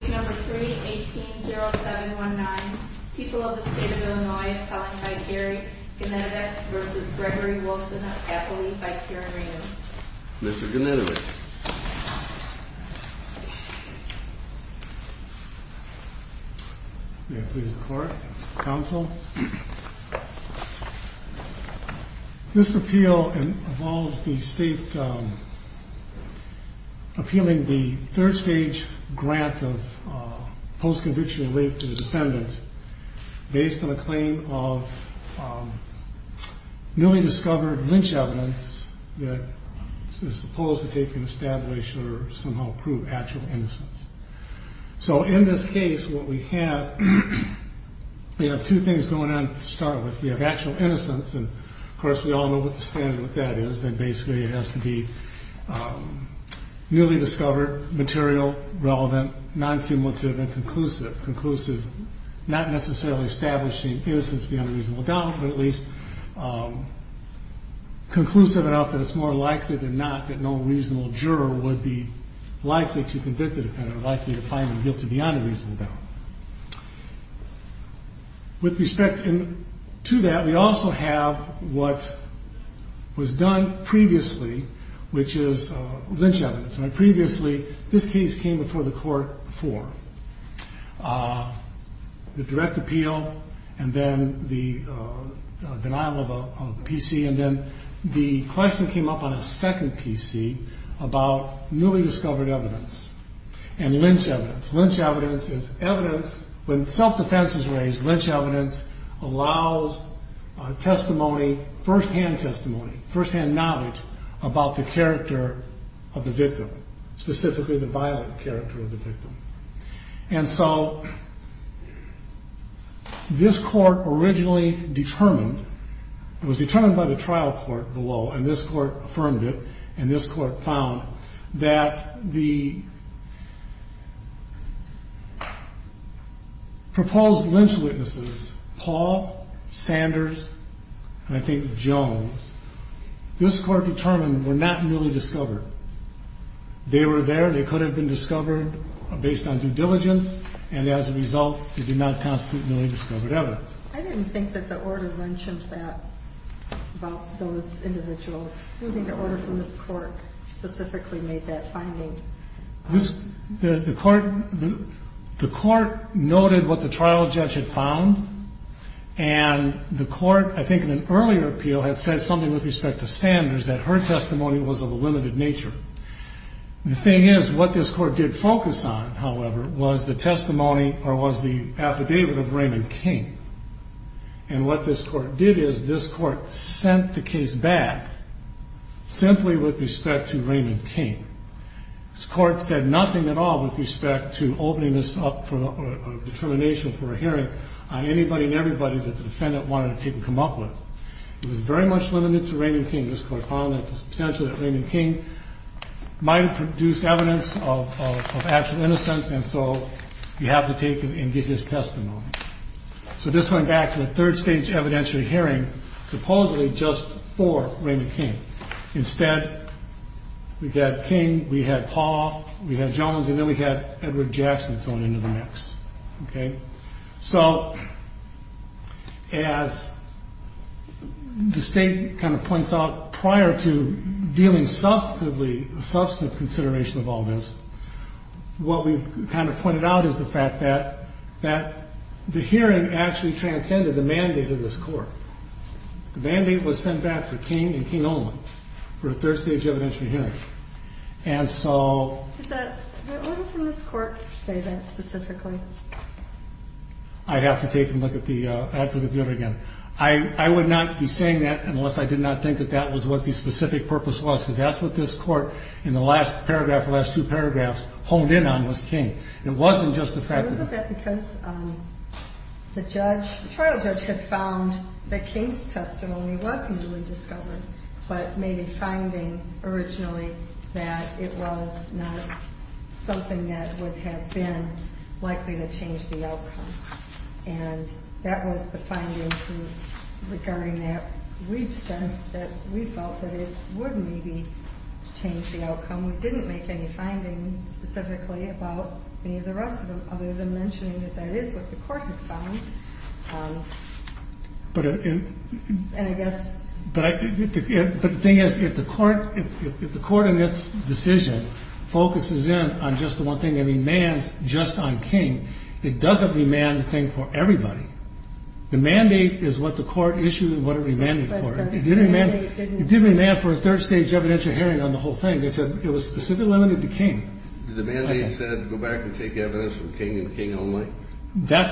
18-07-19 People of the State of Illinois Appealing by Gary Gnedevich v. Gregory Wilson of Appalooie by Karen Ramos Mr. Gnedevich This appeal involves the state appealing the third-stage grant of post-conviction relief to the defendant based on a claim of newly discovered lynch evidence that is supposed to take an establishment or somehow prove actual innocence. So in this case, what we have, we have two things going on to start with. We have actual innocence, and of course we all know what the standard with that is, that basically it has to be newly discovered, material, relevant, non-cumulative, and conclusive. Conclusive, not necessarily establishing innocence beyond a reasonable doubt, but at least conclusive enough that it's more likely than not that no reasonable juror would be likely to convict the defendant, likely to find him guilty beyond a reasonable doubt. With respect to that, we also have what was done previously, which is lynch evidence. Previously, this case came before the court for the direct appeal and then the denial of a PC, and then the question came up on a second PC about newly discovered evidence and lynch evidence. Lynch evidence is evidence, when self-defense is raised, lynch evidence allows testimony, firsthand testimony, firsthand knowledge about the character of the victim, specifically the violent character of the victim. And so this court originally determined, it was determined by the trial court below, and this court affirmed it, and this court found that the proposed lynch witnesses, Paul, Sanders, and I think Jones, this court determined were not newly discovered. They were there, they could have been discovered based on due diligence, and as a result they did not constitute newly discovered evidence. I didn't think that the order mentioned that about those individuals. I don't think the order from this court specifically made that finding. The court noted what the trial judge had found, and the court, I think in an earlier appeal, had said something with respect to Sanders, that her testimony was of a limited nature. The thing is, what this court did focus on, however, was the testimony or was the affidavit of Raymond King. And what this court did is this court sent the case back simply with respect to Raymond King. This court said nothing at all with respect to opening this up for determination for a hearing on anybody and everybody that the defendant wanted to come up with. It was very much limited to Raymond King. This court found that there was potential that Raymond King might have produced evidence of actual innocence, and so you have to take and get his testimony. So this went back to a third-stage evidentiary hearing, supposedly just for Raymond King. Instead, we had King, we had Paul, we had Jones, and then we had Edward Jackson thrown into the mix. So as the state kind of points out, prior to dealing substantively, a substantive consideration of all this, what we've kind of pointed out is the fact that the hearing actually transcended the mandate of this court. The mandate was sent back to King and King only for a third-stage evidentiary hearing. And so... Did the order from this court say that specifically? I'd have to take a look at the advocate's note again. I would not be saying that unless I did not think that that was what the specific purpose was, because that's what this court in the last paragraph, the last two paragraphs, honed in on was King. It wasn't just the fact that... Was it that because the trial judge had found that King's testimony was newly discovered but made a finding originally that it was not something that would have been likely to change the outcome. And that was the finding regarding that we felt that it would maybe change the outcome. We didn't make any findings specifically about any of the rest of them, other than mentioning that that is what the court had found. And I guess... But the thing is, if the court in this decision focuses in on just the one thing and demands just on King, it doesn't demand the thing for everybody. The mandate is what the court issued and what it demanded for it. But the mandate didn't... It did demand for a third-stage evidentiary hearing on the whole thing. It was specifically limited to King. The mandate said go back and take evidence from King and King only? That's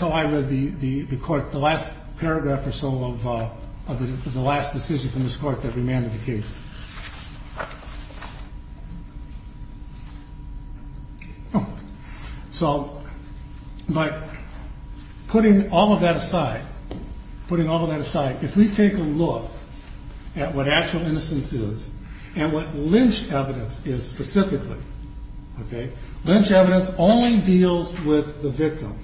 how I read the last paragraph or so of the last decision from this court that remanded the case. So, putting all of that aside, if we take a look at what actual innocence is and what lynch evidence is specifically, lynch evidence only deals with the victim.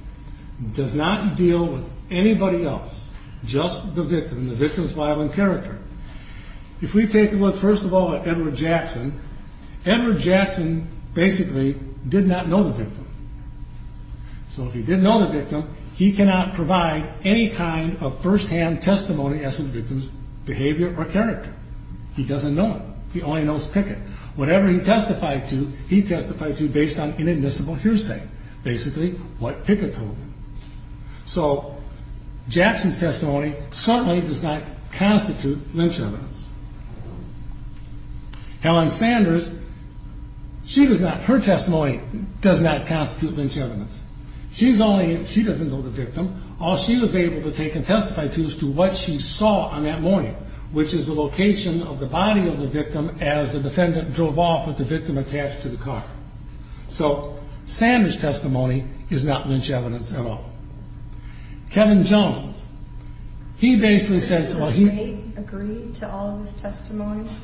It does not deal with anybody else, just the victim, the victim's violent character. If we take a look, first of all, at Edward Jackson, Edward Jackson basically did not know the victim. So if he didn't know the victim, he cannot provide any kind of firsthand testimony as to the victim's behavior or character. He doesn't know him. He only knows Pickett. Whatever he testified to, he testified to based on inadmissible hearsay, basically what Pickett told him. So Jackson's testimony certainly does not constitute lynch evidence. Helen Sanders, she does not... Her testimony does not constitute lynch evidence. She's only... She doesn't know the victim. All she was able to take and testify to is to what she saw on that morning, which is the location of the body of the victim as the defendant drove off with the victim attached to the car. So Sanders' testimony is not lynch evidence at all. Kevin Jones, he basically says... The state agreed to all of his testimonies.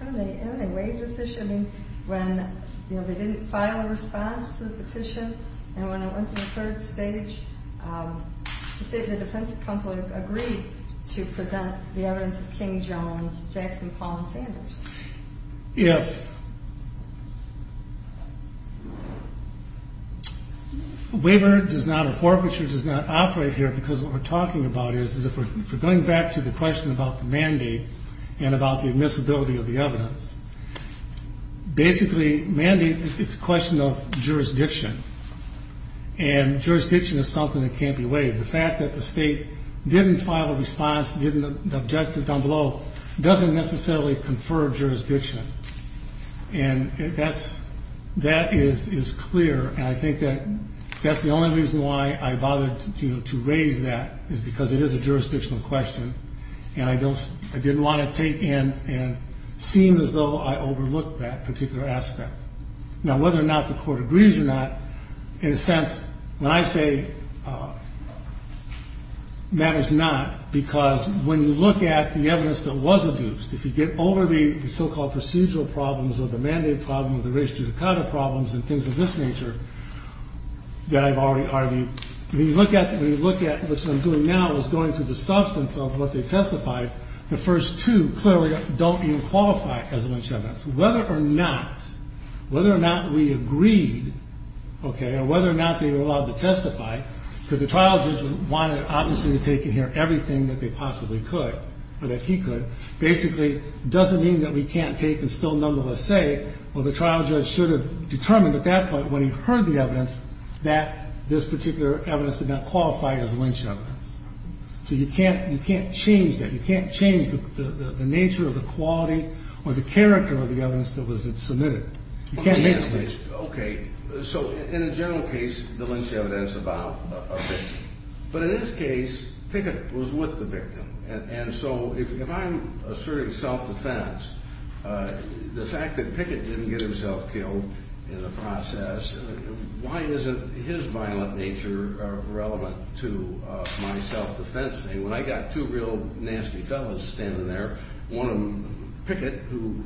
They waived the petition when they didn't file a response to the petition. And when I went to the third stage, the State of the Defense Council agreed to present the evidence of King, Jones, Jackson, Paul, and Sanders. If... A waiver does not, a forfeiture does not operate here because what we're talking about is, if we're going back to the question about the mandate and about the admissibility of the evidence, basically mandate is a question of jurisdiction, and jurisdiction is something that can't be waived. The fact that the state didn't file a response, didn't object to the envelope, doesn't necessarily confer jurisdiction. And that is clear, and I think that that's the only reason why I bothered to raise that is because it is a jurisdictional question, and I didn't want to take in and seem as though I overlooked that particular aspect. Now whether or not the court agrees or not, in a sense, when I say that is not, because when you look at the evidence that was adduced, if you get over the so-called procedural problems or the mandate problem or the race judicata problems and things of this nature that I've already argued, when you look at what I'm doing now as going through the substance of what they testified, the first two clearly don't even qualify as lynch evidence. Whether or not we agreed, or whether or not they were allowed to testify, because the trial judge wanted, obviously, to take in here everything that they possibly could, or that he could, basically doesn't mean that we can't take and still none of us say, well, the trial judge should have determined at that point when he heard the evidence that this particular evidence did not qualify as lynch evidence. So you can't change that. You can't change the nature or the quality or the character of the evidence that was submitted. You can't make this. Okay, so in a general case, the lynch evidence about a victim. But in this case, Pickett was with the victim. And so if I'm asserting self-defense, the fact that Pickett didn't get himself killed in the process, why isn't his violent nature relevant to my self-defense thing? When I got two real nasty fellas standing there, one of them, Pickett, who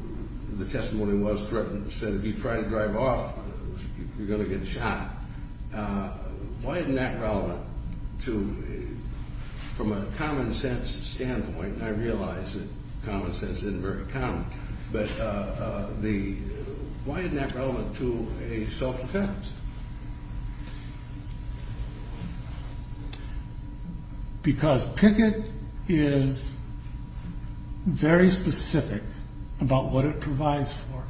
the testimony was threatened, said, if you try to drive off, you're going to get shot. Why isn't that relevant to, from a common-sense standpoint? I realize that common sense isn't very common. But why isn't that relevant to a self-defense? Because Pickett is very specific about what it provides for.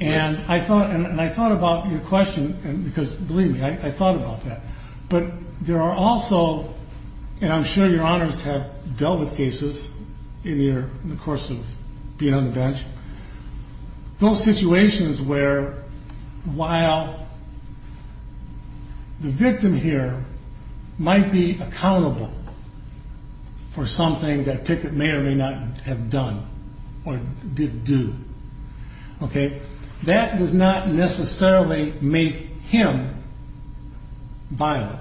And I thought about your question, because believe me, I thought about that. But there are also, and I'm sure your honors have dealt with cases in the course of being on the bench, those situations where, while there is evidence the victim here might be accountable for something that Pickett may or may not have done or did do. That does not necessarily make him violent.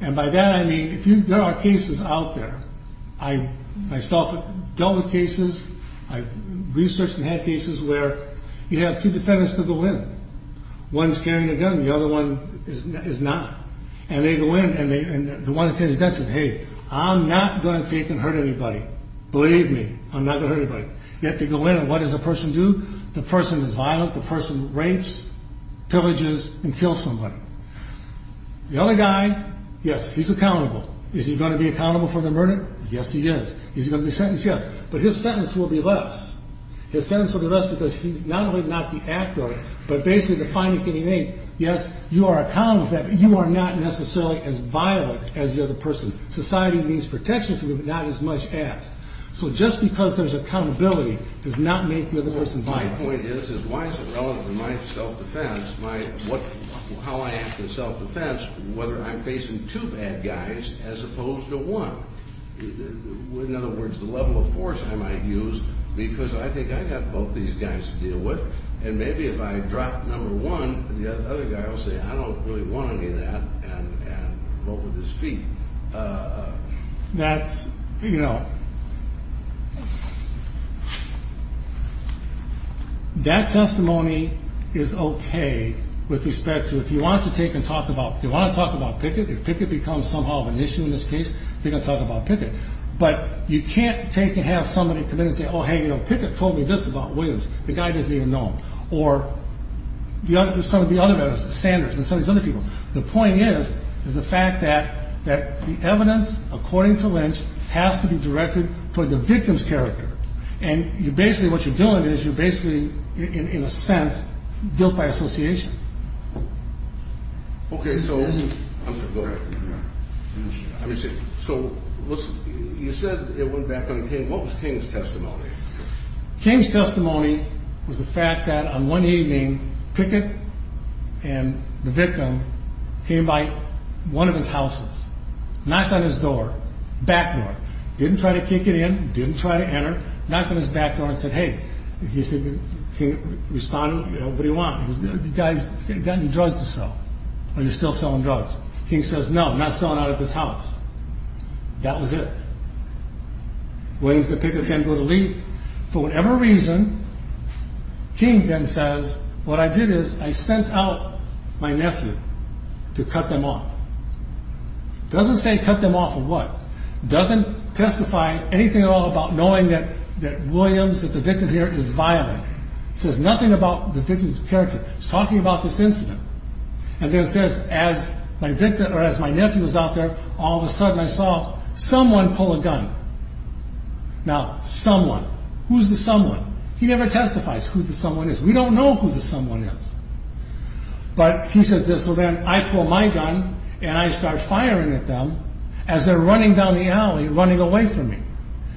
And by that I mean, there are cases out there, I myself have dealt with cases, I've researched and had cases where you have two defendants to go in. One's carrying a gun, the other one is not. And they go in, and the one that carries a gun says, hey, I'm not going to take and hurt anybody. Believe me, I'm not going to hurt anybody. You have to go in, and what does the person do? The person is violent, the person rapes, pillages, and kills somebody. The other guy, yes, he's accountable. Is he going to be accountable for the murder? Yes, he is. Is he going to be sentenced? Yes. But his sentence will be less. His sentence will be less because he's not only not the actor, but basically defining anything. Yes, you are accountable for that, but you are not necessarily as violent as the other person. Society means protection for you, but not as much as. So just because there's accountability does not make the other person violent. My point is, why is it relevant to my self-defense, how I act in self-defense, whether I'm facing two bad guys as opposed to one? In other words, the level of force I might use because I think I've got both these guys to deal with, and maybe if I drop number one, the other guy will say, I don't really want any of that, and vote with his feet. That testimony is okay with respect to, if you want to talk about Pickett, if Pickett becomes somehow of an issue in this case, you're going to talk about Pickett. But you can't have somebody come in and say, oh, hey, Pickett told me this about Williams. The guy doesn't even know him. Or some of the other vendors, Sanders and some of these other people. The point is the fact that the evidence, according to Lynch, has to be directed for the victim's character. And basically what you're doing is you're basically, in a sense, guilt by association. So you said it went back on King. What was King's testimony? King's testimony was the fact that on one evening, Pickett and the victim came by one of his houses, knocked on his door, back door. Didn't try to kick it in, didn't try to enter. Knocked on his back door and said, hey. He said, King responded, what do you want? The guy's got any drugs to sell. Are you still selling drugs? King says, no, I'm not selling out of this house. That was it. Williams and Pickett can't go to leave. For whatever reason, King then says, what I did is I sent out my nephew to cut them off. Doesn't say cut them off of what? Doesn't testify anything at all about knowing that Williams, that the victim here, is violent. It says nothing about the victim's character. It's talking about this incident. And then it says, as my nephew was out there, all of a sudden I saw someone pull a gun. Now, someone. Who's the someone? He never testifies who the someone is. We don't know who the someone is. But he says this, so then I pull my gun and I start firing at them as they're running down the alley, running away from me.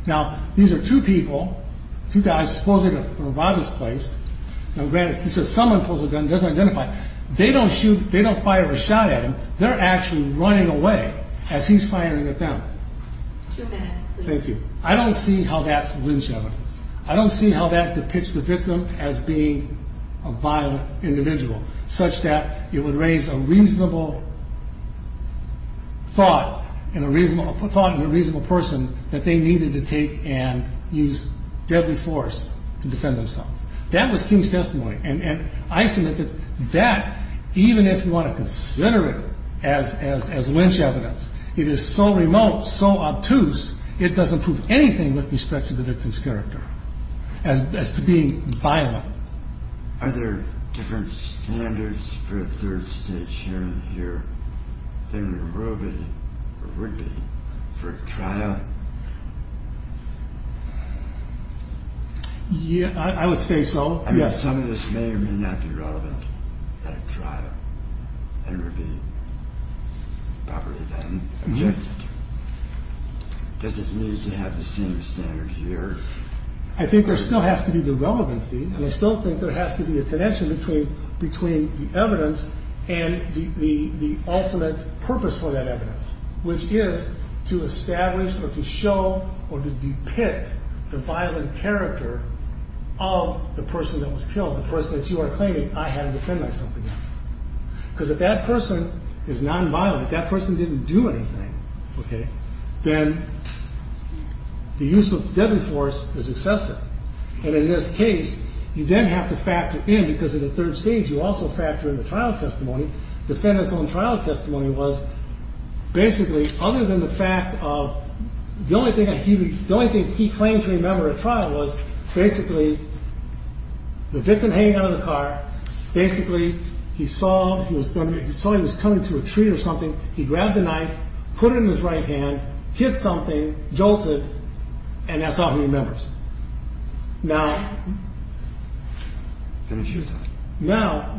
Now, these are two people, two guys, supposedly from a robber's place. Now granted, he says someone pulls a gun, doesn't identify. They don't fire a shot at him. They're actually running away as he's firing at them. Thank you. I don't see how that's lynch evidence. I don't see how that depicts the victim as being a violent individual such that it would raise a reasonable thought and a reasonable thought and a reasonable person that they needed to take and use deadly force to defend themselves. That was King's testimony. And I submit that that, even if you want to consider it as lynch evidence, it is so remote, so obtuse, it doesn't prove anything with respect to the victim's character as to being violent. Are there different standards for a third-stage hearing here than there really would be for a trial? I would say so, yes. I mean, some of this may or may not be relevant at a trial and would be probably then rejected. Does it need to have the same standard here? I think there still has to be the relevancy, and I still think there has to be a connection between the evidence and the ultimate purpose for that evidence, which is to establish or to show or to depict the violent character of the person that was killed, the person that you are claiming I had to defend myself against. Because if that person is nonviolent, that person didn't do anything, then the use of deadly force is excessive. And in this case, you then have to factor in, because in the third stage you also factor in the trial testimony, defendant's own trial testimony was basically, other than the fact of the only thing he claimed to remember at trial was basically the victim hanging out of the car, basically he saw he was coming to a tree or something, he grabbed the knife, put it in his right hand, hit something, jolted, and that's all he remembers. Now,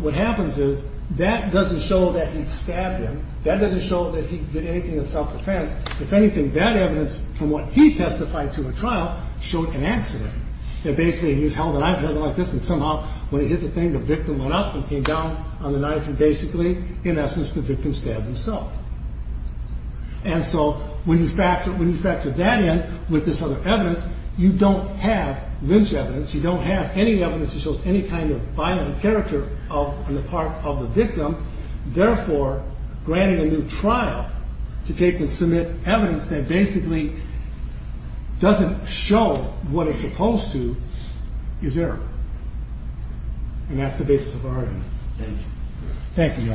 what happens is that doesn't show that he stabbed him. That doesn't show that he did anything in self-defense. If anything, that evidence from what he testified to at trial showed an accident, that basically he held a knife, held it like this, and somehow when he hit the thing, the victim went up and came down on the knife and basically, in essence, the victim stabbed himself. And so when you factor that in with this other evidence, you don't have lynch evidence, you don't have any evidence that shows any kind of violent character on the part of the victim. Therefore, granting a new trial to take and submit evidence that basically doesn't show what it's supposed to is error. And that's the basis of our argument. Thank you. Thank you, Your Honor.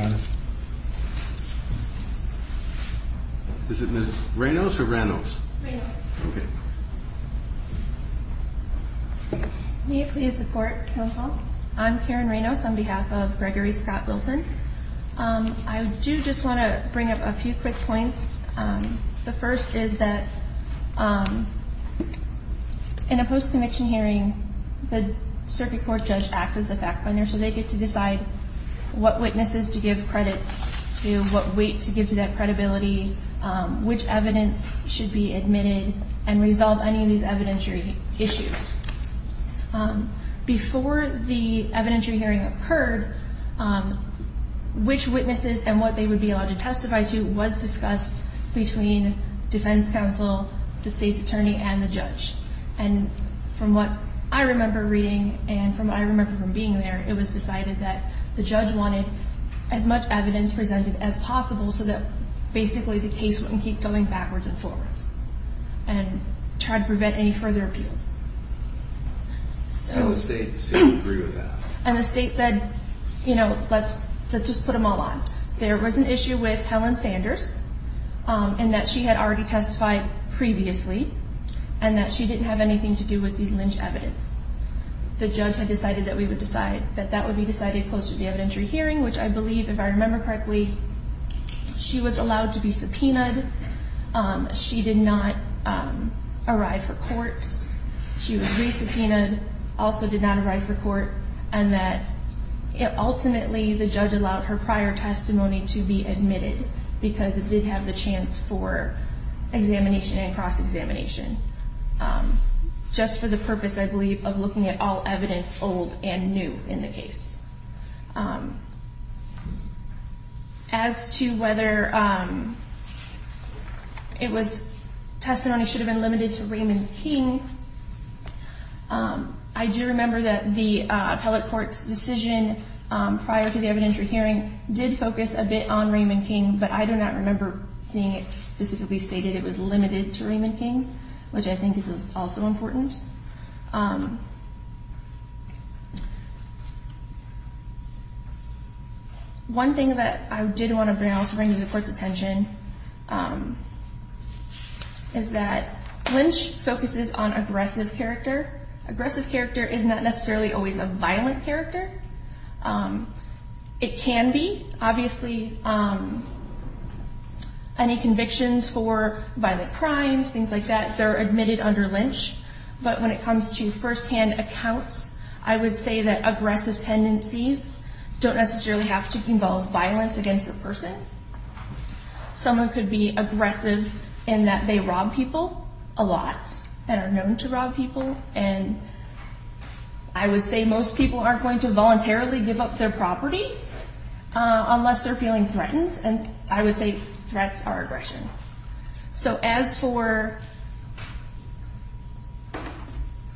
Is it Ms. Reynos or Reynos? Reynos. Okay. May you please support Hill Hall? I'm Karen Reynos on behalf of Gregory Scott Wilson. I do just want to bring up a few quick points. The first is that in a post-conviction hearing, the circuit court judge acts as the fact finder, so they get to decide what witnesses to give credit to, what weight to give to that credibility, which evidence should be admitted and resolve any of these evidentiary issues. Before the evidentiary hearing occurred, which witnesses and what they would be allowed to testify to was discussed between defense counsel, the state's attorney, and the judge. And from what I remember reading and from what I remember from being there, it was decided that the judge wanted as much evidence presented as possible so that basically the case wouldn't keep going backwards and forwards and try to prevent any further appeals. And the state said we agree with that? And the state said, you know, let's just put them all on. There was an issue with Helen Sanders in that she had already testified previously and that she didn't have anything to do with the lynch evidence. The judge had decided that that would be decided close to the evidentiary hearing, which I believe, if I remember correctly, she was allowed to be subpoenaed. She did not arrive for court. And that ultimately the judge allowed her prior testimony to be admitted because it did have the chance for examination and cross-examination just for the purpose, I believe, of looking at all evidence old and new in the case. As to whether testimony should have been limited to Raymond King, I do remember that the appellate court's decision prior to the evidentiary hearing did focus a bit on Raymond King, but I do not remember seeing it specifically stated it was limited to Raymond King, which I think is also important. One thing that I did want to bring to the court's attention is that lynch focuses on aggressive character. Aggressive character is not necessarily always a violent character. It can be. Obviously, any convictions for violent crimes, things like that, they're admitted under lynch. But when it comes to firsthand accounts, I would say that aggressive tendencies don't necessarily have to involve violence against a person. Someone could be aggressive in that they rob people a lot and are known to rob people. And I would say most people aren't going to voluntarily give up their property unless they're feeling threatened, and I would say threats are aggression. So as for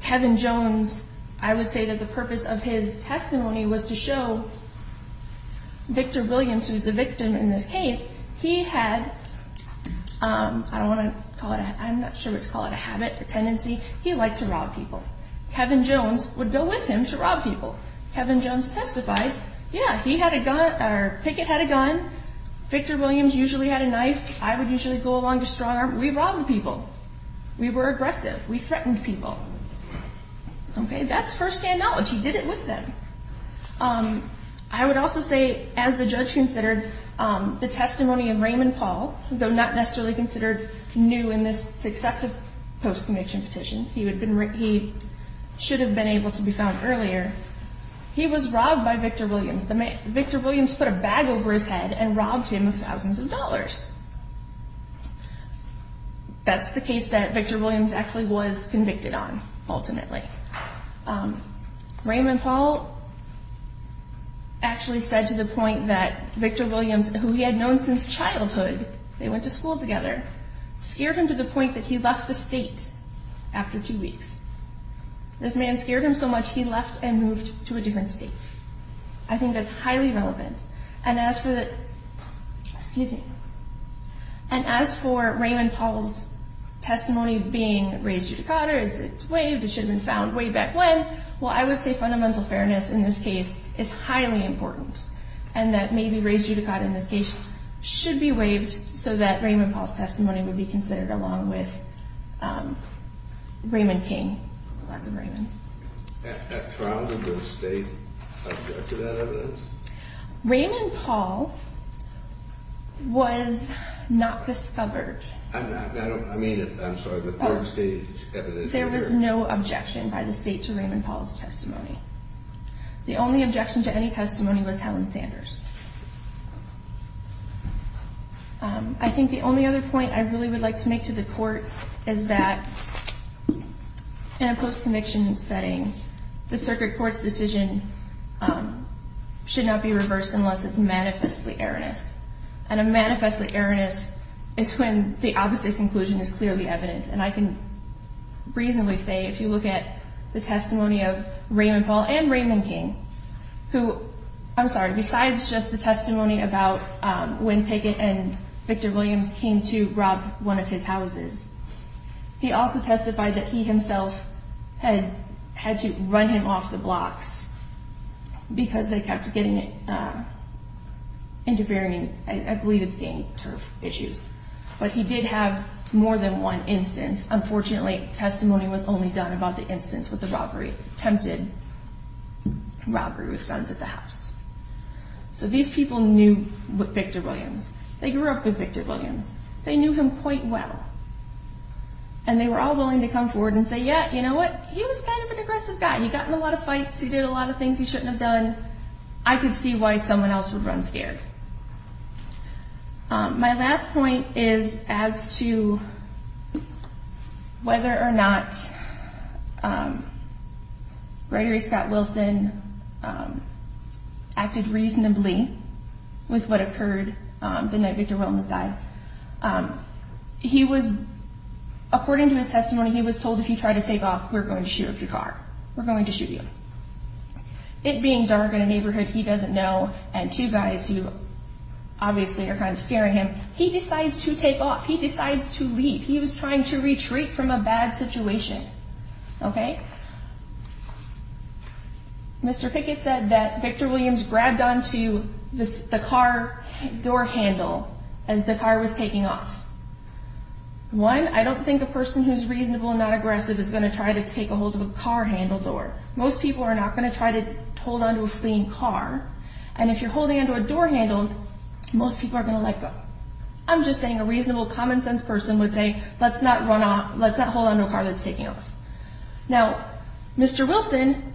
Kevin Jones, I would say that the purpose of his testimony was to show Victor Williams, who's the victim in this case, he had, I don't want to call it, I'm not sure what to call it, a habit, a tendency. He liked to rob people. Kevin Jones would go with him to rob people. Kevin Jones testified, yeah, he had a gun, or Pickett had a gun. Victor Williams usually had a knife. I would usually go along with a strong arm. We robbed people. We were aggressive. We threatened people. Okay, that's firsthand knowledge. He did it with them. I would also say, as the judge considered the testimony of Raymond Paul, though not necessarily considered new in this successive post-conviction petition, he should have been able to be found earlier, he was robbed by Victor Williams. Victor Williams put a bag over his head and robbed him of thousands of dollars. That's the case that Victor Williams actually was convicted on, ultimately. Raymond Paul actually said to the point that Victor Williams, who he had known since childhood, they went to school together, scared him to the point that he left the state after two weeks. This man scared him so much he left and moved to a different state. I think that's highly relevant. And as for Raymond Paul's testimony being raised judicata, it's waived, it should have been found way back when. Well, I would say fundamental fairness in this case is highly important and that maybe raised judicata in this case should be waived so that Raymond Paul's testimony would be considered along with Raymond King. Lots of Raymonds. That trial, did the state object to that evidence? Raymond Paul was not discovered. I mean, I'm sorry, the third stage evidence. There was no objection by the state to Raymond Paul's testimony. The only objection to any testimony was Helen Sanders. I think the only other point I really would like to make to the court is that in a post-conviction setting, the circuit court's decision should not be reversed unless it's manifestly erroneous. And a manifestly erroneous is when the opposite conclusion is clearly evident, and I can reasonably say if you look at the testimony of Raymond Paul and Raymond King, who, I'm sorry, besides just the testimony about when Pickett and Victor Williams came to rob one of his houses, he also testified that he himself had to run him off the blocks because they kept getting interfering, I believe it's gang turf issues. But he did have more than one instance. Unfortunately, testimony was only done about the instance with the robbery, attempted robbery with guns at the house. So these people knew Victor Williams. They grew up with Victor Williams. They knew him quite well, and they were all willing to come forward and say, yeah, you know what, he was kind of an aggressive guy. He got in a lot of fights. He did a lot of things he shouldn't have done. I could see why someone else would run scared. My last point is as to whether or not Gregory Scott Wilson acted reasonably with what occurred the night Victor Williams died. He was, according to his testimony, he was told if you try to take off, we're going to shoot your car. We're going to shoot you. It being dark in a neighborhood he doesn't know, and two guys who obviously are kind of scaring him, he decides to take off. He decides to leave. He was trying to retreat from a bad situation. Okay? Mr. Pickett said that Victor Williams grabbed onto the car door handle as the car was taking off. One, I don't think a person who's reasonable and not aggressive is going to try to take a hold of a car handle door. Most people are not going to try to hold onto a fleeing car, and if you're holding onto a door handle, most people are going to let go. I'm just saying a reasonable, common-sense person would say, let's not hold onto a car that's taking off. Now, Mr. Wilson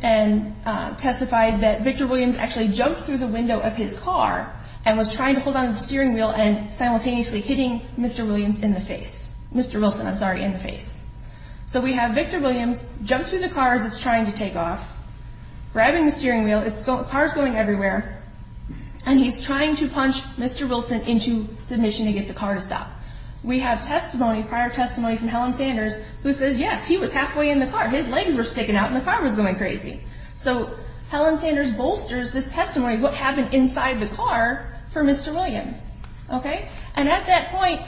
testified that Victor Williams actually jumped through the window of his car and was trying to hold onto the steering wheel and simultaneously hitting Mr. Williams in the face. Mr. Wilson, I'm sorry, in the face. So we have Victor Williams jump through the car as it's trying to take off, grabbing the steering wheel, the car's going everywhere, and he's trying to punch Mr. Wilson into submission to get the car to stop. We have testimony, prior testimony from Helen Sanders, who says, yes, he was halfway in the car. His legs were sticking out and the car was going crazy. So Helen Sanders bolsters this testimony of what happened inside the car for Mr. Williams. Okay? And at that point,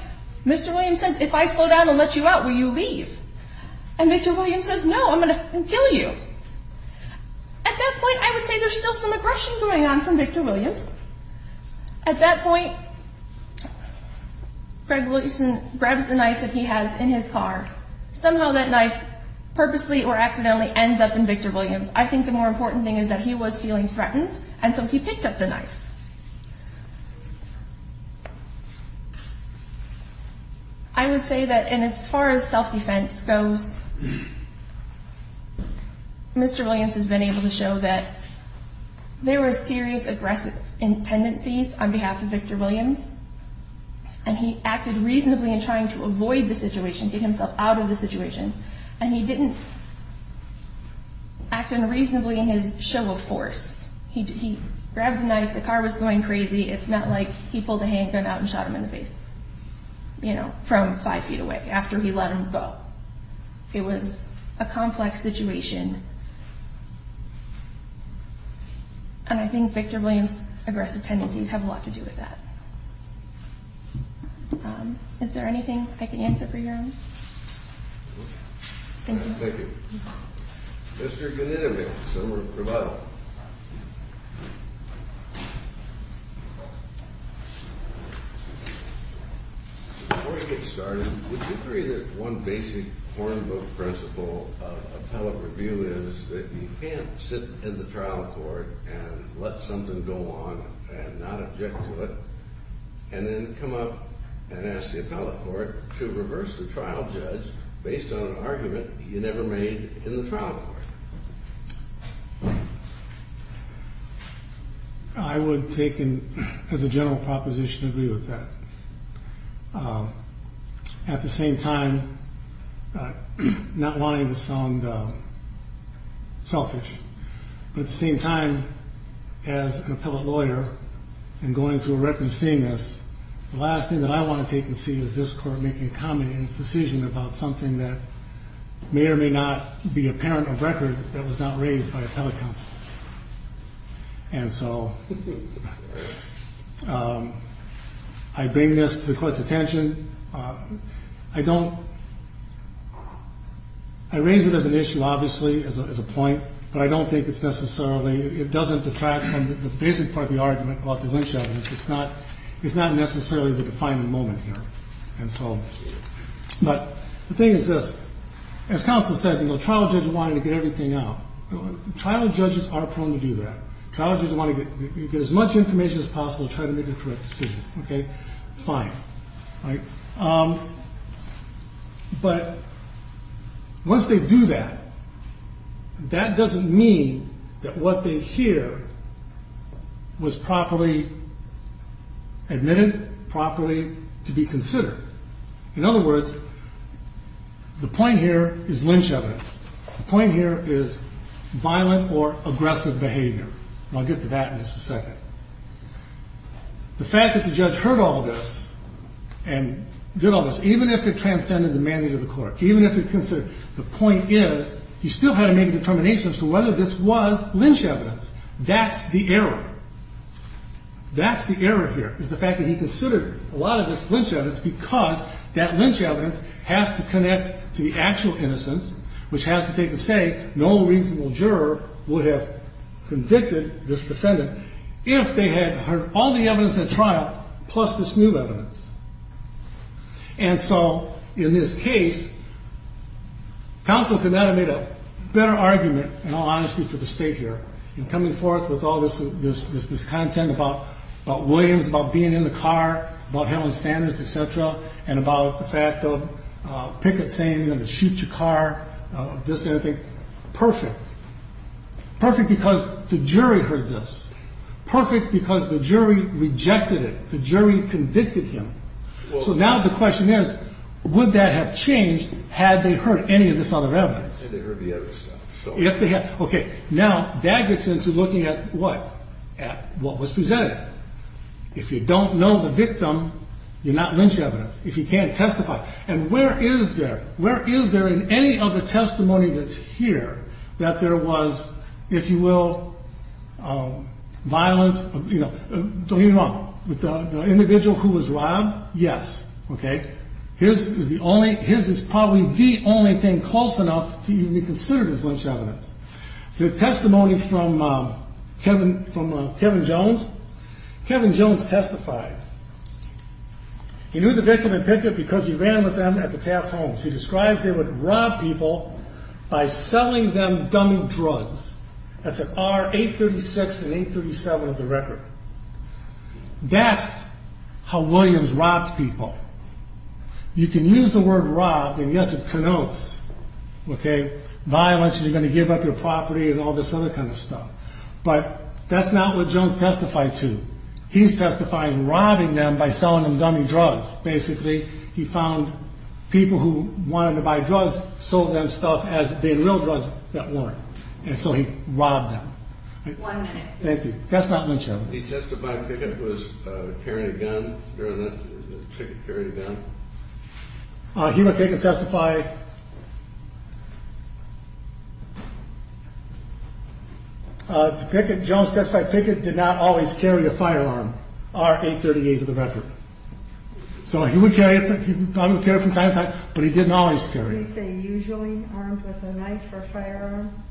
Mr. Williams says, if I slow down and let you out, will you leave? And Victor Williams says, no, I'm going to kill you. At that point, I would say there's still some aggression going on from Victor Williams. At that point, Greg Wilson grabs the knife that he has in his car. Somehow that knife purposely or accidentally ends up in Victor Williams. I think the more important thing is that he was feeling threatened, and so he picked up the knife. I would say that in as far as self-defense goes, Mr. Williams has been able to show that there were serious aggressive tendencies on behalf of Victor Williams, and he acted reasonably in trying to avoid the situation, get himself out of the situation. And he didn't act unreasonably in his show of force. He grabbed a knife. The car was going crazy. It's not like he pulled a handgun out and shot him in the face, you know, from five feet away after he let him go. It was a complex situation, and I think Victor Williams' aggressive tendencies have a lot to do with that. Is there anything I can answer for you? Thank you. Thank you. Mr. Ganitovic, Senator Gravata. Before we get started, would you agree that one basic Hornbill principle of appellate review is that you can't sit in the trial court and let something go on and not object to it and then come up and ask the appellate court to reverse the trial judge based on an argument you never made in the trial court? I would take and, as a general proposition, agree with that. At the same time, not wanting to sound selfish, but at the same time, as an appellate lawyer and going through a record of seeing this, the last thing that I want to take and see is this court making a comment in its decision about something that may or may not be apparent of record that was not raised by appellate counsel. And so I bring this to the court's attention. I don't – I raise it as an issue, obviously, as a point, but I don't think it's necessarily – it doesn't detract from the basic part of the argument about the lynch evidence. It's not necessarily the defining moment here. And so – but the thing is this. As counsel said, the trial judge wanted to get everything out. Trial judges are prone to do that. Trial judges want to get as much information as possible to try to make a correct decision. Okay, fine. But once they do that, that doesn't mean that what they hear was properly admitted, properly to be considered. In other words, the point here is lynch evidence. The point here is violent or aggressive behavior. And I'll get to that in just a second. The fact that the judge heard all this and did all this, even if it transcended the mandate of the court, even if it considered – the point is he still had to make a determination as to whether this was lynch evidence. That's the error. That's the error here, is the fact that he considered a lot of this lynch evidence because that lynch evidence has to connect to the actual innocence, which has to take the say no reasonable juror would have convicted this defendant if they had heard all the evidence at trial plus this new evidence. And so in this case, counsel could not have made a better argument, in all honesty, for the State here in coming forth with all this content about Williams, about being in the car, about handling standards, et cetera, and about the fact of Pickett saying, you know, shoot your car, this and everything. Perfect. Perfect because the jury heard this. Perfect because the jury rejected it. The jury convicted him. So now the question is, would that have changed had they heard any of this other evidence? Had they heard the other stuff. If they had. Okay. Now, that gets into looking at what? At what was presented. If you don't know the victim, you're not lynch evidence. If you can, testify. And where is there? Where is there in any of the testimony that's here that there was, if you will, violence? You know, don't get me wrong. The individual who was robbed, yes. Okay. His is probably the only thing close enough to even be considered as lynch evidence. The testimony from Kevin Jones. Kevin Jones testified. He knew the victim in Pickett because he ran with them at the Taft homes. He describes they would rob people by selling them dummy drugs. That's at R836 and 837 of the record. That's how Williams robbed people. You can use the word robbed, and yes, it connotes, okay, I mentioned you're going to give up your property and all this other kind of stuff. But that's not what Jones testified to. He's testifying robbing them by selling them dummy drugs, basically. He found people who wanted to buy drugs, sold them stuff as the real drugs that weren't. And so he robbed them. One minute. Thank you. That's not lynch evidence. He testified Pickett was carrying a gun during the Pickett carried a gun? He would take and testify. Jones testified Pickett did not always carry a firearm. R838 of the record. So he would carry it from time to time, but he didn't always carry it. Did he say usually armed with a knife or firearm?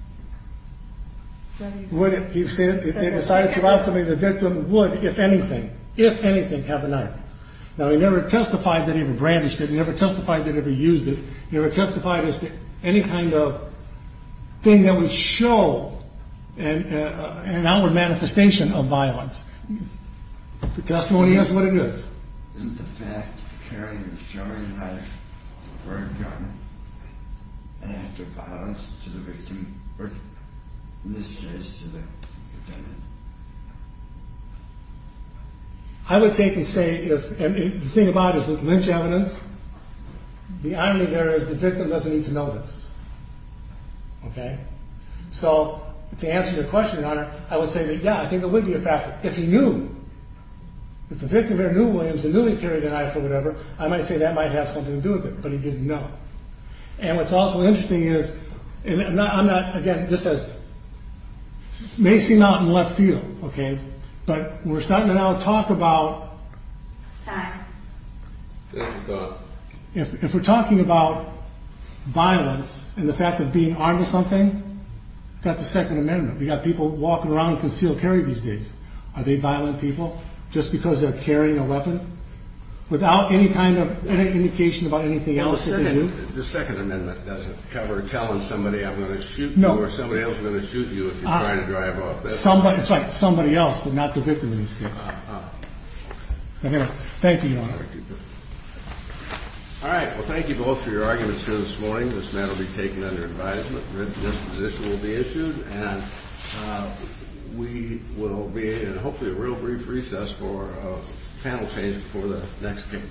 He said if they decided to rob somebody, the victim would, if anything, if anything, have a knife. Now, he never testified that he ever brandished it. He never testified that he ever used it. He never testified as to any kind of thing that would show an outward manifestation of violence. The testimony is what it is. Isn't the fact of carrying a sharp knife or a firearm an act of violence to the victim or misuse to the defendant? I would take and say, and the thing about it is with lynch evidence, the irony there is the victim doesn't need to know this. Okay? So to answer your question, your honor, I would say that, yeah, I think there would be a factor. If he knew that the victim here knew Williams had newly carried a knife or whatever, I might say that might have something to do with it, but he didn't know. And what's also interesting is, and I'm not, again, this has, may seem out in left field, okay, but we're starting to now talk about. If we're talking about violence and the fact of being armed with something, we've got the Second Amendment. We've got people walking around in concealed carry these days. Are they violent people just because they're carrying a weapon? Without any kind of indication about anything else that they do? The Second Amendment doesn't cover telling somebody I'm going to shoot you or somebody else is going to shoot you if you're trying to drive off. That's right, somebody else, but not the victim in this case. Thank you, your honor. All right. Well, thank you both for your arguments here this morning. This matter will be taken under advisement. This position will be issued, and we will be in hopefully a real brief recess for panel changes for the next case.